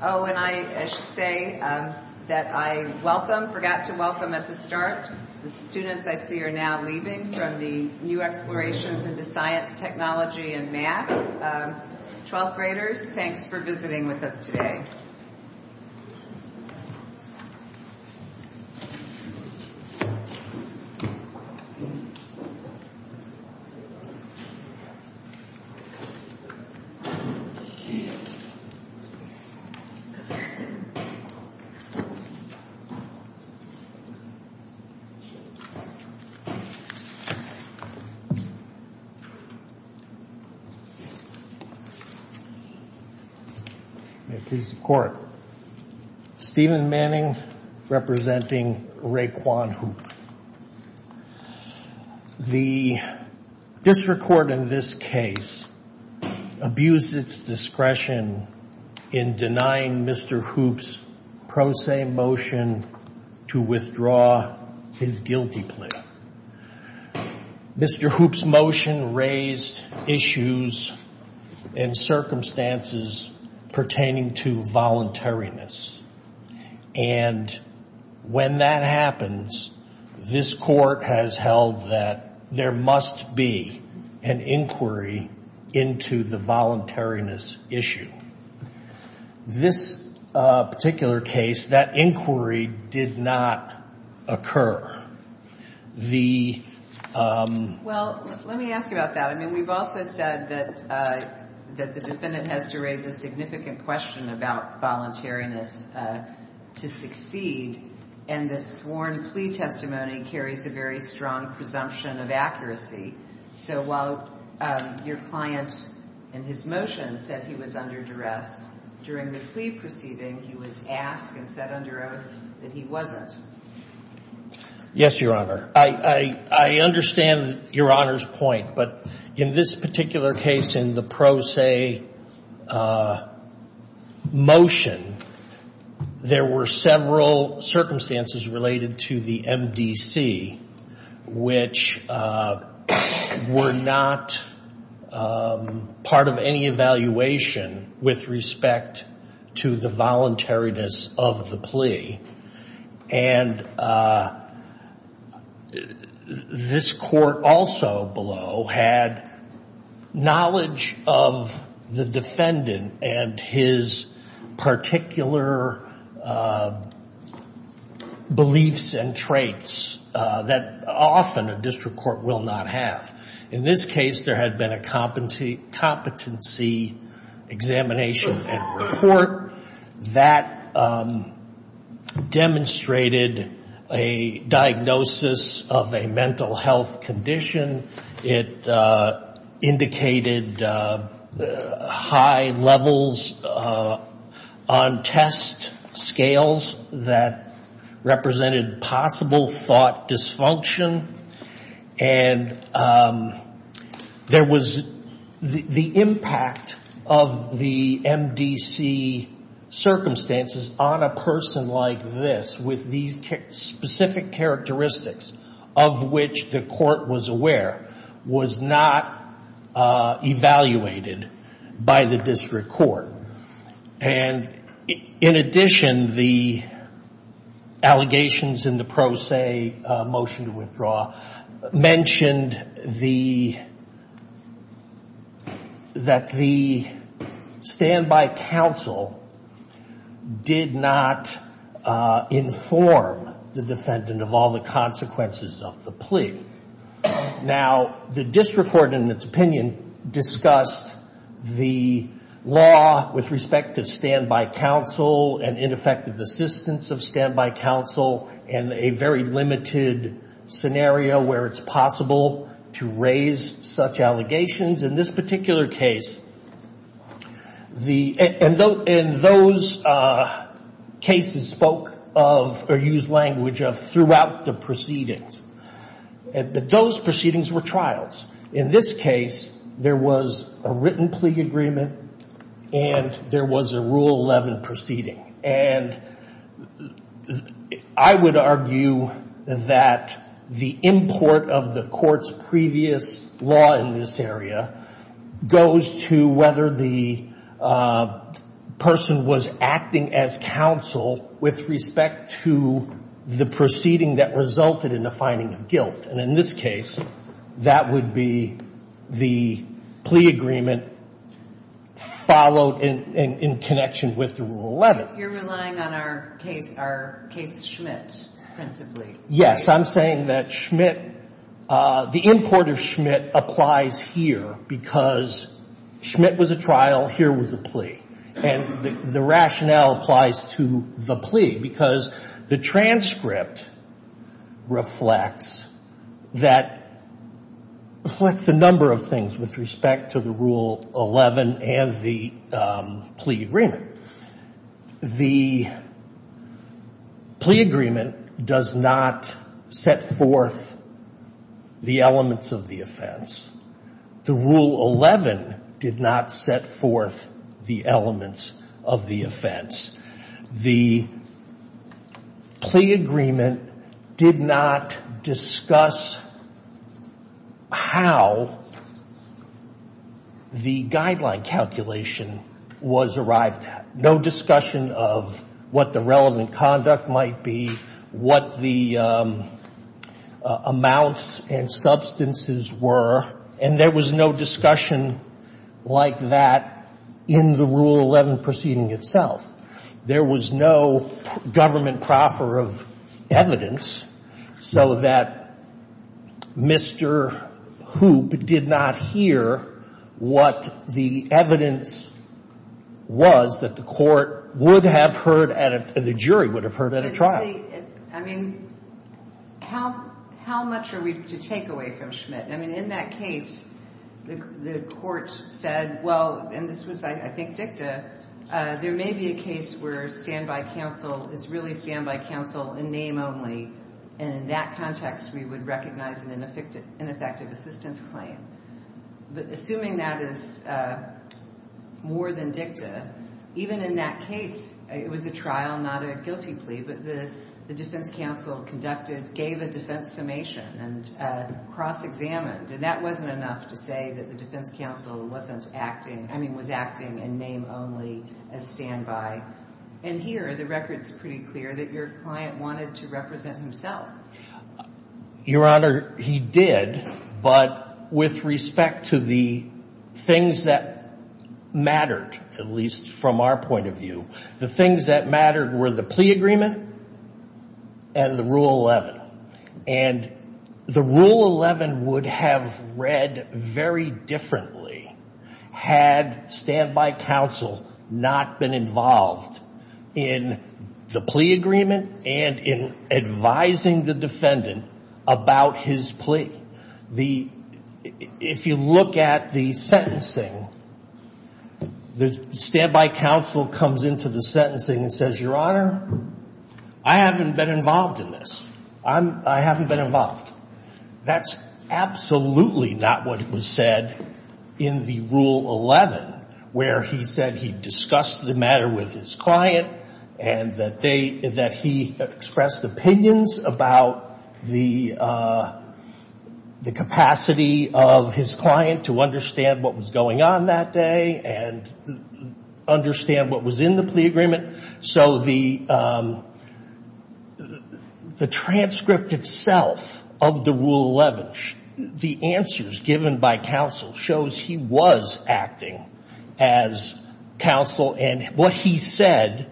Oh, and I should say that I welcome, forgot to welcome at the start, the students I see are now leaving from the New Explorations into Science, Technology, and Math 12th graders. Thanks for visiting with us today. May it please the Court. Stephen Manning, representing Raekwon Houpe. The district court in this case abused its discretion in denying Mr. Houpe's pro se motion to withdraw his guilty plea. Mr. Houpe's motion raised issues and circumstances pertaining to voluntariness. And when that happens, this court has held that there must be an inquiry into the voluntariness issue. This particular case, that inquiry did not occur. Well, let me ask you about that. I mean, we've also said that the defendant has to raise a significant question about voluntariness to succeed. And the sworn plea testimony carries a very strong presumption of accuracy. So while your client in his motion said he was under duress, during the plea proceeding, he was asked and said under oath that he wasn't. Yes, Your Honor. I understand Your Honor's point, but in this particular case, in the pro se motion, there were several circumstances related to the MDC, which were not part of any evaluation with respect to the voluntariness of the plea. And this court also below had knowledge of the defendant and his particular beliefs and traits that often a district court will not have. In this case, there had been a competency examination in court that demonstrated a diagnosis of a mental health condition. It indicated high levels on test scales that represented possible thought dysfunction. And there was the impact of the MDC circumstances on a person like this with these specific characteristics of which the court was aware, was not evaluated by the district court. And in addition, the allegations in the pro se motion to withdraw mentioned that the standby counsel did not inform the defendant of all the consequences of the plea. Now, the district court, in its opinion, discussed the law with respect to standby counsel and ineffective assistance of standby counsel and a very limited scenario where it's possible to raise such allegations. In this particular case, and those cases spoke of or used language of throughout the proceedings. Those proceedings were trials. In this case, there was a written plea agreement and there was a Rule 11 proceeding. And I would argue that the import of the court's previous law in this area goes to whether the person was acting as counsel with respect to the proceeding that resulted in the finding of guilt. And in this case, that would be the plea agreement followed in connection with the Rule 11. You're relying on our case Schmidt principally. Yes, I'm saying that Schmidt, the import of Schmidt applies here because Schmidt was a trial, here was a plea. And the rationale applies to the plea because the transcript reflects the number of things with respect to the Rule 11 and the plea agreement. The plea agreement does not set forth the elements of the offense. The Rule 11 did not set forth the elements of the offense. The plea agreement did not discuss how the guideline calculation was arrived at. No discussion of what the relevant conduct might be, what the amounts and substances were, and there was no discussion like that in the Rule 11 proceeding itself. There was no government proffer of evidence so that Mr. Hoop did not hear what the evidence was that the court would have heard and the jury would have heard at a trial. I mean, how much are we to take away from Schmidt? I mean, in that case, the court said, well, and this was, I think, dicta, there may be a case where standby counsel is really standby counsel in name only. And in that context, we would recognize an ineffective assistance claim. But assuming that is more than dicta, even in that case, it was a trial, not a guilty plea, but the defense counsel conducted, gave a defense summation and cross-examined. And that wasn't enough to say that the defense counsel wasn't acting, I mean, was acting in name only as standby. And here, the record's pretty clear that your client wanted to represent himself. Your Honor, he did, but with respect to the things that mattered, at least from our point of view, the things that mattered were the plea agreement and the Rule 11. And the Rule 11 would have read very differently had standby counsel not been involved in the plea agreement and in advising the defendant about his plea. The, if you look at the sentencing, the standby counsel comes into the sentencing and says, Your Honor, I haven't been involved in this. I haven't been involved. That's absolutely not what was said in the Rule 11, where he said he discussed the matter with his client and that they, that he expressed opinions about the capacity of his client to understand what was going on that day and understand what was in the plea agreement. So the, the transcript itself of the Rule 11, the answers given by counsel shows he was acting as counsel and what he said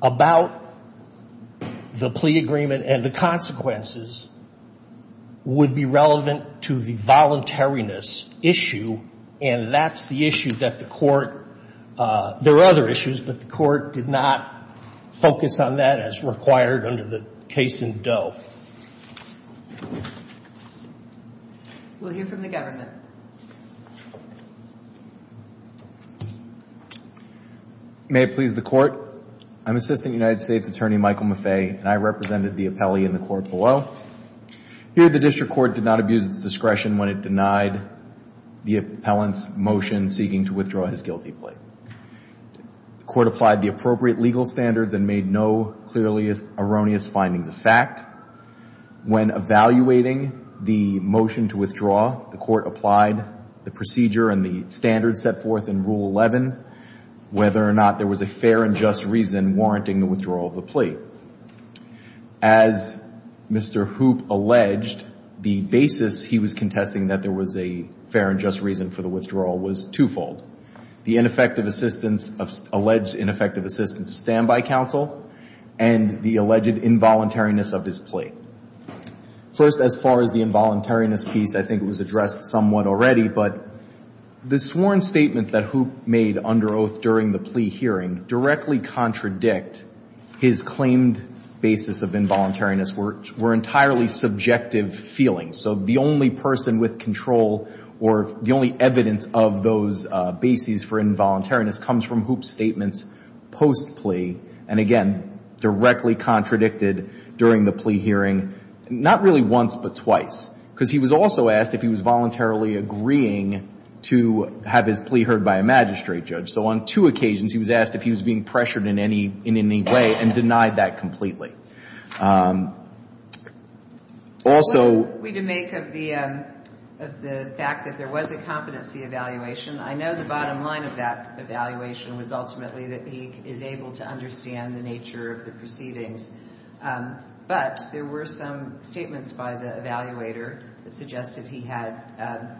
about the plea agreement and the consequences would be relevant to the voluntariness issue. And that's the issue that the Court, there are other issues, but the Court did not focus on that as required under the case in Doe. We'll hear from the government. May it please the Court. I'm Assistant United States Attorney Michael Maffei and I represented the appellee in the court below. Here the district court did not abuse its discretion when it denied the appellant's motion seeking to withdraw his guilty plea. The court applied the appropriate legal standards and made no clearly erroneous findings of fact. When evaluating the motion to withdraw, the court applied the procedure and the standards set forth in Rule 11, whether or not there was a fair and just reason warranting the withdrawal of the plea. As Mr. Hoop alleged, the basis he was contesting that there was a fair and just reason for the withdrawal was twofold. The ineffective assistance of, alleged ineffective assistance of standby counsel and the alleged involuntariness of his plea. First, as far as the involuntariness piece, I think it was addressed somewhat already. But the sworn statements that Hoop made under oath during the plea hearing directly contradict his claimed basis of involuntariness, which were entirely subjective feelings. So the only person with control or the only evidence of those bases for involuntariness comes from Hoop's statements post-plea and, again, directly contradicted during the plea hearing, not really once but twice. Because he was also asked if he was voluntarily agreeing to have his plea heard by a magistrate judge. So on two occasions, he was asked if he was being pressured in any way and denied that completely. Also — What can we make of the fact that there was a competency evaluation? I know the bottom line of that evaluation was ultimately that he is able to understand the nature of the proceedings. But there were some statements by the evaluator that suggested he had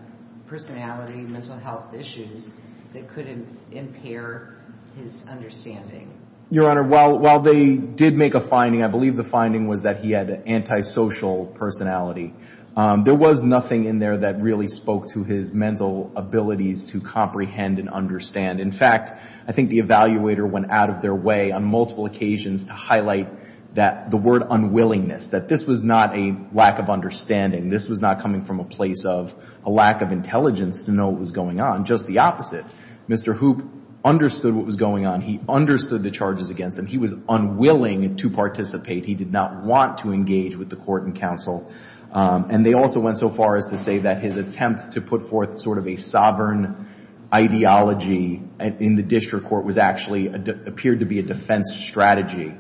personality, mental health issues that could impair his understanding. Your Honor, while they did make a finding, I believe the finding was that he had an antisocial personality. There was nothing in there that really spoke to his mental abilities to comprehend and understand. In fact, I think the evaluator went out of their way on multiple occasions to highlight the word unwillingness, that this was not a lack of understanding. This was not coming from a place of a lack of intelligence to know what was going on. Just the opposite. Mr. Hoop understood what was going on. He understood the charges against him. He was unwilling to participate. He did not want to engage with the court and counsel. And they also went so far as to say that his attempt to put forth sort of a sovereign ideology in the district court was actually — appeared to be a defense strategy.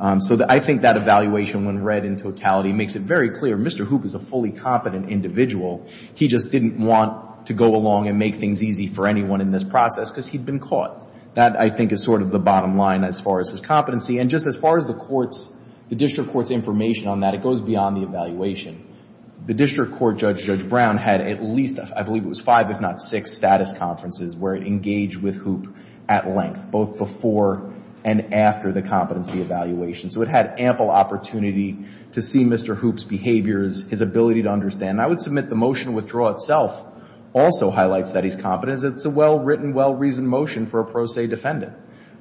So I think that evaluation, when read in totality, makes it very clear Mr. Hoop is a fully competent individual. He just didn't want to go along and make things easy for anyone in this process because he'd been caught. That, I think, is sort of the bottom line as far as his competency. And just as far as the court's — the district court's information on that, it goes beyond the evaluation. The district court judge, Judge Brown, had at least, I believe it was five, if not six, status conferences where it engaged with Hoop at length, both before and after the competency evaluation. So it had ample opportunity to see Mr. Hoop's behaviors, his ability to understand. I would submit the motion to withdraw itself also highlights that he's competent. It's a well-written, well-reasoned motion for a pro se defendant.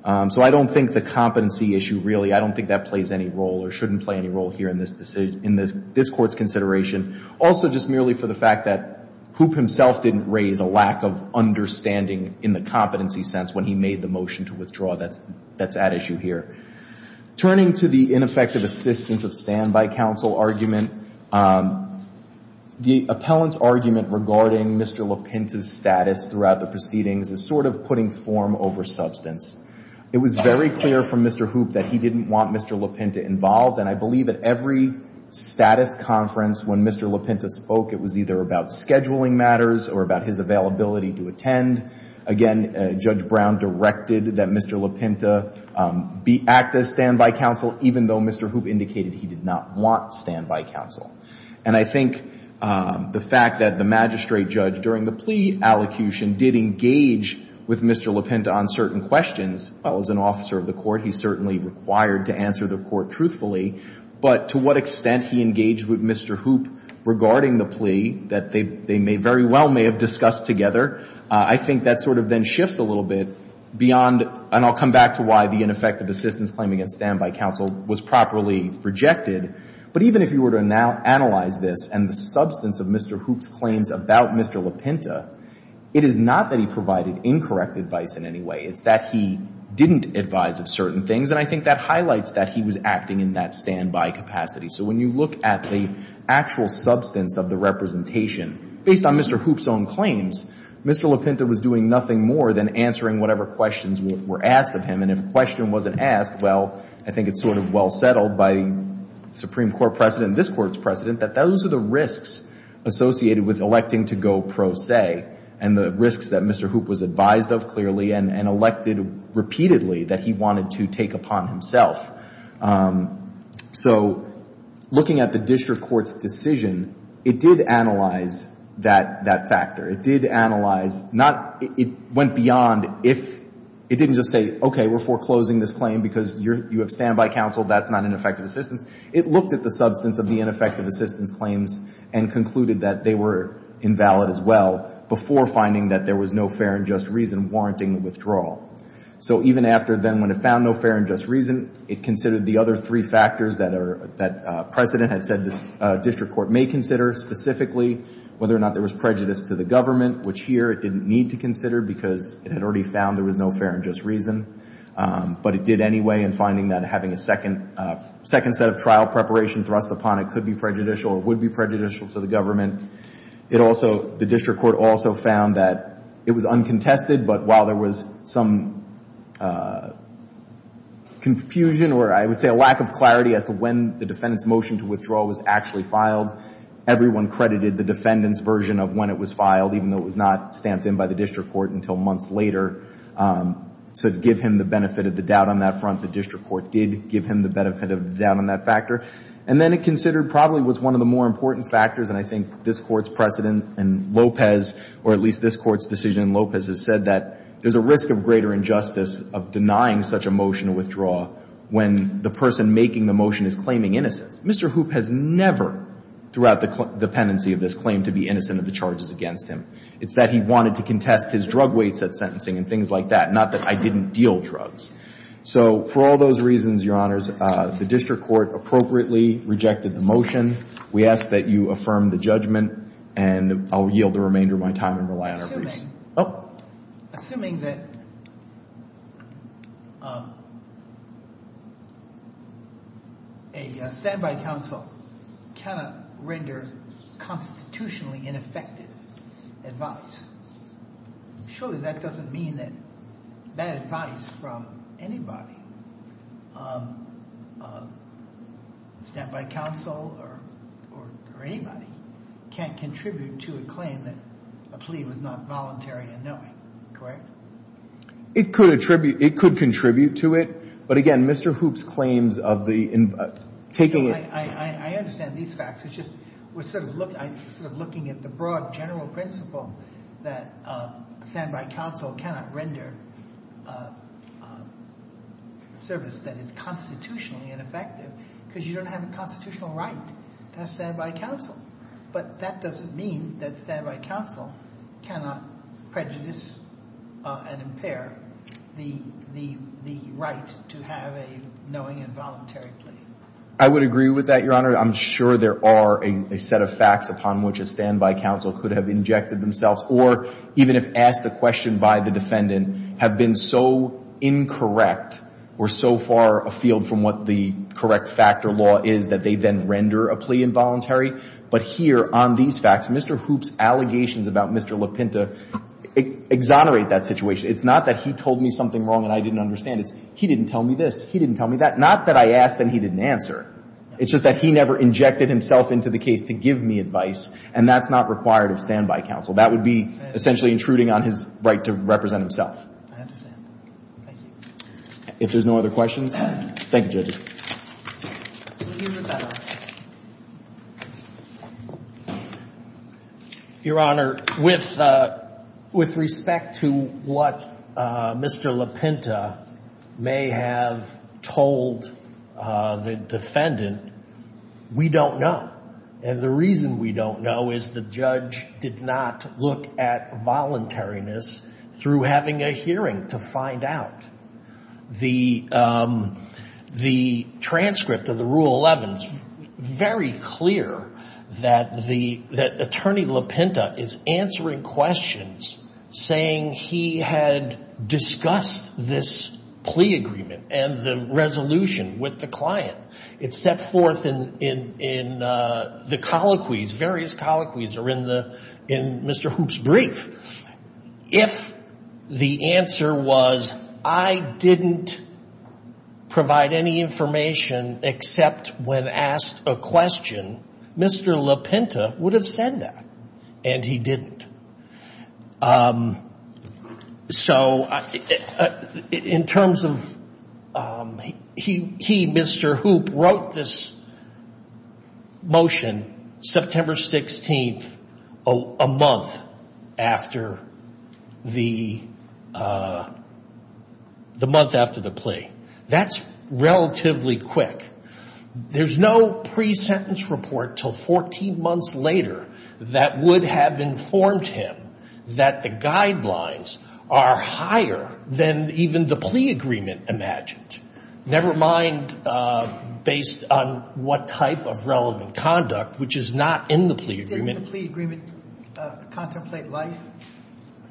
So I don't think the competency issue really — I don't think that plays any role or shouldn't play any role here in this court's consideration. Also, just merely for the fact that Hoop himself didn't raise a lack of understanding in the competency sense when he made the motion to withdraw, that's at issue here. Turning to the ineffective assistance of standby counsel argument, the appellant's argument regarding Mr. LaPinta's status throughout the proceedings is sort of putting form over substance. It was very clear from Mr. Hoop that he didn't want Mr. LaPinta involved, and I believe at every status conference when Mr. LaPinta spoke, it was either about scheduling matters or about his availability to attend. Again, Judge Brown directed that Mr. LaPinta act as standby counsel, even though Mr. Hoop indicated he did not want standby counsel. And I think the fact that the magistrate judge during the plea allocution did engage with Mr. LaPinta on certain questions, well, as an officer of the court, he's certainly required to answer the court truthfully. But to what extent he engaged with Mr. Hoop regarding the plea that they may very well may have discussed together, I think that sort of then shifts a little bit beyond — and I'll come back to why the ineffective assistance claim against standby counsel was properly rejected. But even if you were to analyze this and the substance of Mr. Hoop's claims about Mr. LaPinta, it is not that he provided incorrect advice in any way. It's that he didn't advise of certain things, and I think that highlights that he was acting in that standby capacity. So when you look at the actual substance of the representation, based on Mr. Hoop's own claims, Mr. LaPinta was doing nothing more than answering whatever questions were asked of him. And if a question wasn't asked, well, I think it's sort of well settled by the Supreme Court precedent and this Court's precedent that those are the risks associated with electing to go pro se and the risks that Mr. Hoop was advised of clearly and elected repeatedly that he wanted to take upon himself. So looking at the district court's decision, it did analyze that factor. It did analyze — not — it went beyond if — it didn't just say, okay, we're foreclosing this claim because you have standby counsel, that's not ineffective assistance. It looked at the substance of the ineffective assistance claims and concluded that they were invalid as well before finding that there was no fair and just reason warranting withdrawal. So even after then, when it found no fair and just reason, it considered the other three factors that precedent had said this district court may consider, specifically whether or not there was prejudice to the government, which here it didn't need to consider because it had already found there was no fair and just reason. But it did anyway in finding that having a second set of trial preparation thrust upon it could be prejudicial or would be prejudicial to the government. It also — the district court also found that it was uncontested, but while there was some confusion or I would say a lack of clarity as to when the defendant's motion to withdraw was actually filed, everyone credited the defendant's version of when it was filed, even though it was not stamped in by the district court until months later, to give him the benefit of the doubt on that front. The district court did give him the benefit of the doubt on that factor. And then it considered probably what's one of the more important factors, and I think this Court's precedent in Lopez, or at least this Court's decision in Lopez, has said that there's a risk of greater injustice of denying such a motion to withdraw when the person making the motion is claiming innocence. Mr. Hoop has never, throughout the pendency of this claim, to be innocent of the charges against him. It's that he wanted to contest his drug weights at sentencing and things like that, not that I didn't deal drugs. So for all those reasons, Your Honors, the district court appropriately rejected the motion. We ask that you affirm the judgment, and I'll yield the remainder of my time and rely on her. Assuming that a standby counsel cannot render constitutionally ineffective advice, surely that doesn't mean that bad advice from anybody, a standby counsel or anybody, can't contribute to a claim that a plea was not voluntary and knowing. Correct? It could contribute to it. But, again, Mr. Hoop's claims of the in- I understand these facts. It's just we're sort of looking at the broad general principle that a standby counsel cannot render service that is constitutionally ineffective because you don't have a constitutional right to have a standby counsel. But that doesn't mean that a standby counsel cannot prejudice and impair the right to have a knowing and voluntary plea. I would agree with that, Your Honor. I'm sure there are a set of facts upon which a standby counsel could have injected themselves or even if asked a question by the defendant, have been so incorrect or so far afield from what the correct factor law is that they then render a plea involuntary. But here on these facts, Mr. Hoop's allegations about Mr. Lapinta exonerate that situation. It's not that he told me something wrong and I didn't understand it. It's he didn't tell me this, he didn't tell me that. Not that I asked and he didn't answer. It's just that he never injected himself into the case to give me advice, and that's not required of standby counsel. That would be essentially intruding on his right to represent himself. I understand. Thank you. If there's no other questions. Thank you, judges. Your Honor, with respect to what Mr. Lapinta may have told the defendant, we don't know. And the reason we don't know is the judge did not look at voluntariness through having a hearing to find out. The transcript of the Rule 11 is very clear that Attorney Lapinta is answering questions saying he had discussed this plea agreement and the resolution with the client. It's set forth in the colloquies, various colloquies, or in Mr. Hoop's brief. If the answer was I didn't provide any information except when asked a question, Mr. Lapinta would have said that, and he didn't. So in terms of he, Mr. Hoop, wrote this motion September 16th, a month after the plea. That's relatively quick. There's no pre-sentence report until 14 months later that would have informed him that the guidelines are higher than even the plea agreement imagined, never mind based on what type of relevant conduct, which is not in the plea agreement. Didn't the plea agreement contemplate life?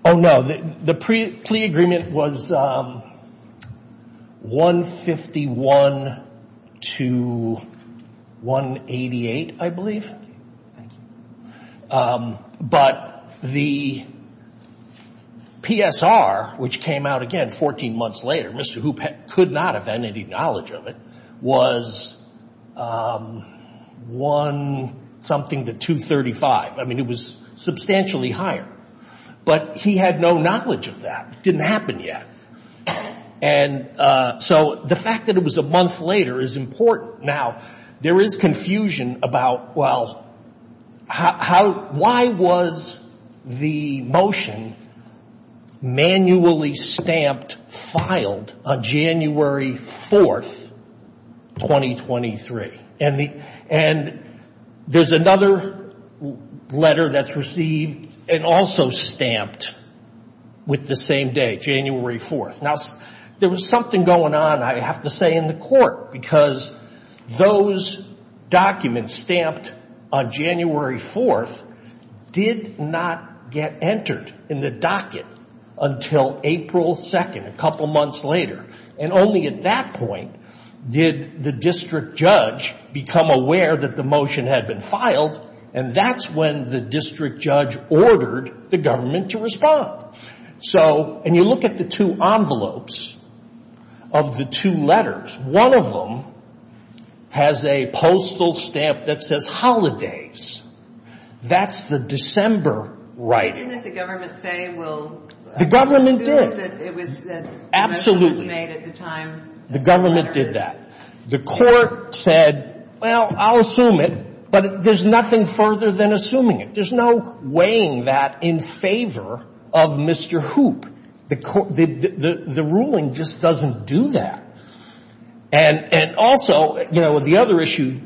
Oh, no. The plea agreement was 151 to 188, I believe. But the PSR, which came out again 14 months later, Mr. Hoop could not have had any knowledge of it, was one something to 235. I mean, it was substantially higher. But he had no knowledge of that. It didn't happen yet. And so the fact that it was a month later is important. Now, there is confusion about, well, how, why was the motion manually stamped, filed on January 4th, 2023? And there's another letter that's received and also stamped with the same day, January 4th. Now, there was something going on, I have to say, in the court because those documents stamped on January 4th did not get entered in the docket until April 2nd, a couple months later. And only at that point did the district judge become aware that the motion had been filed, and that's when the district judge ordered the government to respond. So, and you look at the two envelopes of the two letters, one of them has a postal stamp that says holidays. That's the December writing. Didn't the government say, well, The government did. Absolutely. The government did that. The court said, well, I'll assume it, but there's nothing further than assuming it. There's no weighing that in favor of Mr. Hoop. The ruling just doesn't do that. And also, you know, the other issue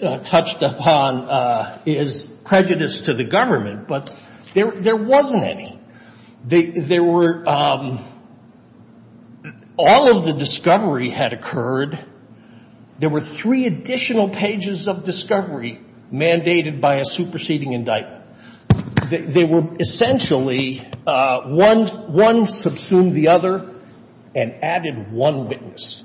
touched upon is prejudice to the government, but there wasn't any. There were all of the discovery had occurred. There were three additional pages of discovery mandated by a superseding indictment. They were essentially one subsumed the other and added one witness.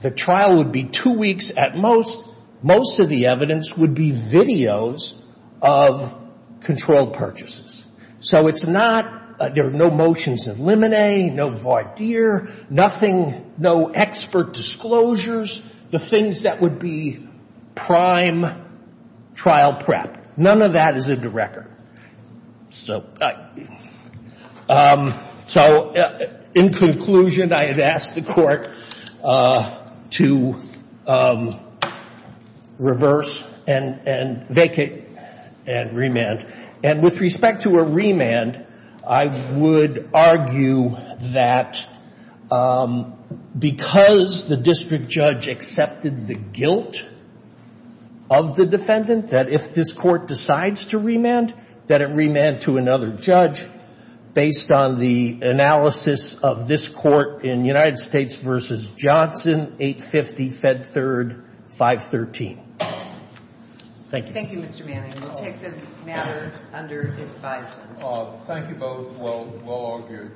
The trial would be two weeks at most. Most of the evidence would be videos of controlled purchases. So it's not, there are no motions of limine, no voir dire, nothing, no expert disclosures, the things that would be prime trial prep. None of that is in the record. So in conclusion, I had asked the court to reverse and vacate and remand. And with respect to a remand, I would argue that because the district judge accepted the guilt of the defendant, that if this court decides to remand, that it remand to another judge based on the analysis of this court in United States v. Johnson, 850 Fed Third 513. Thank you. Thank you, Mr. Manning. We'll take the matter under advisement. Thank you both. We'll argue.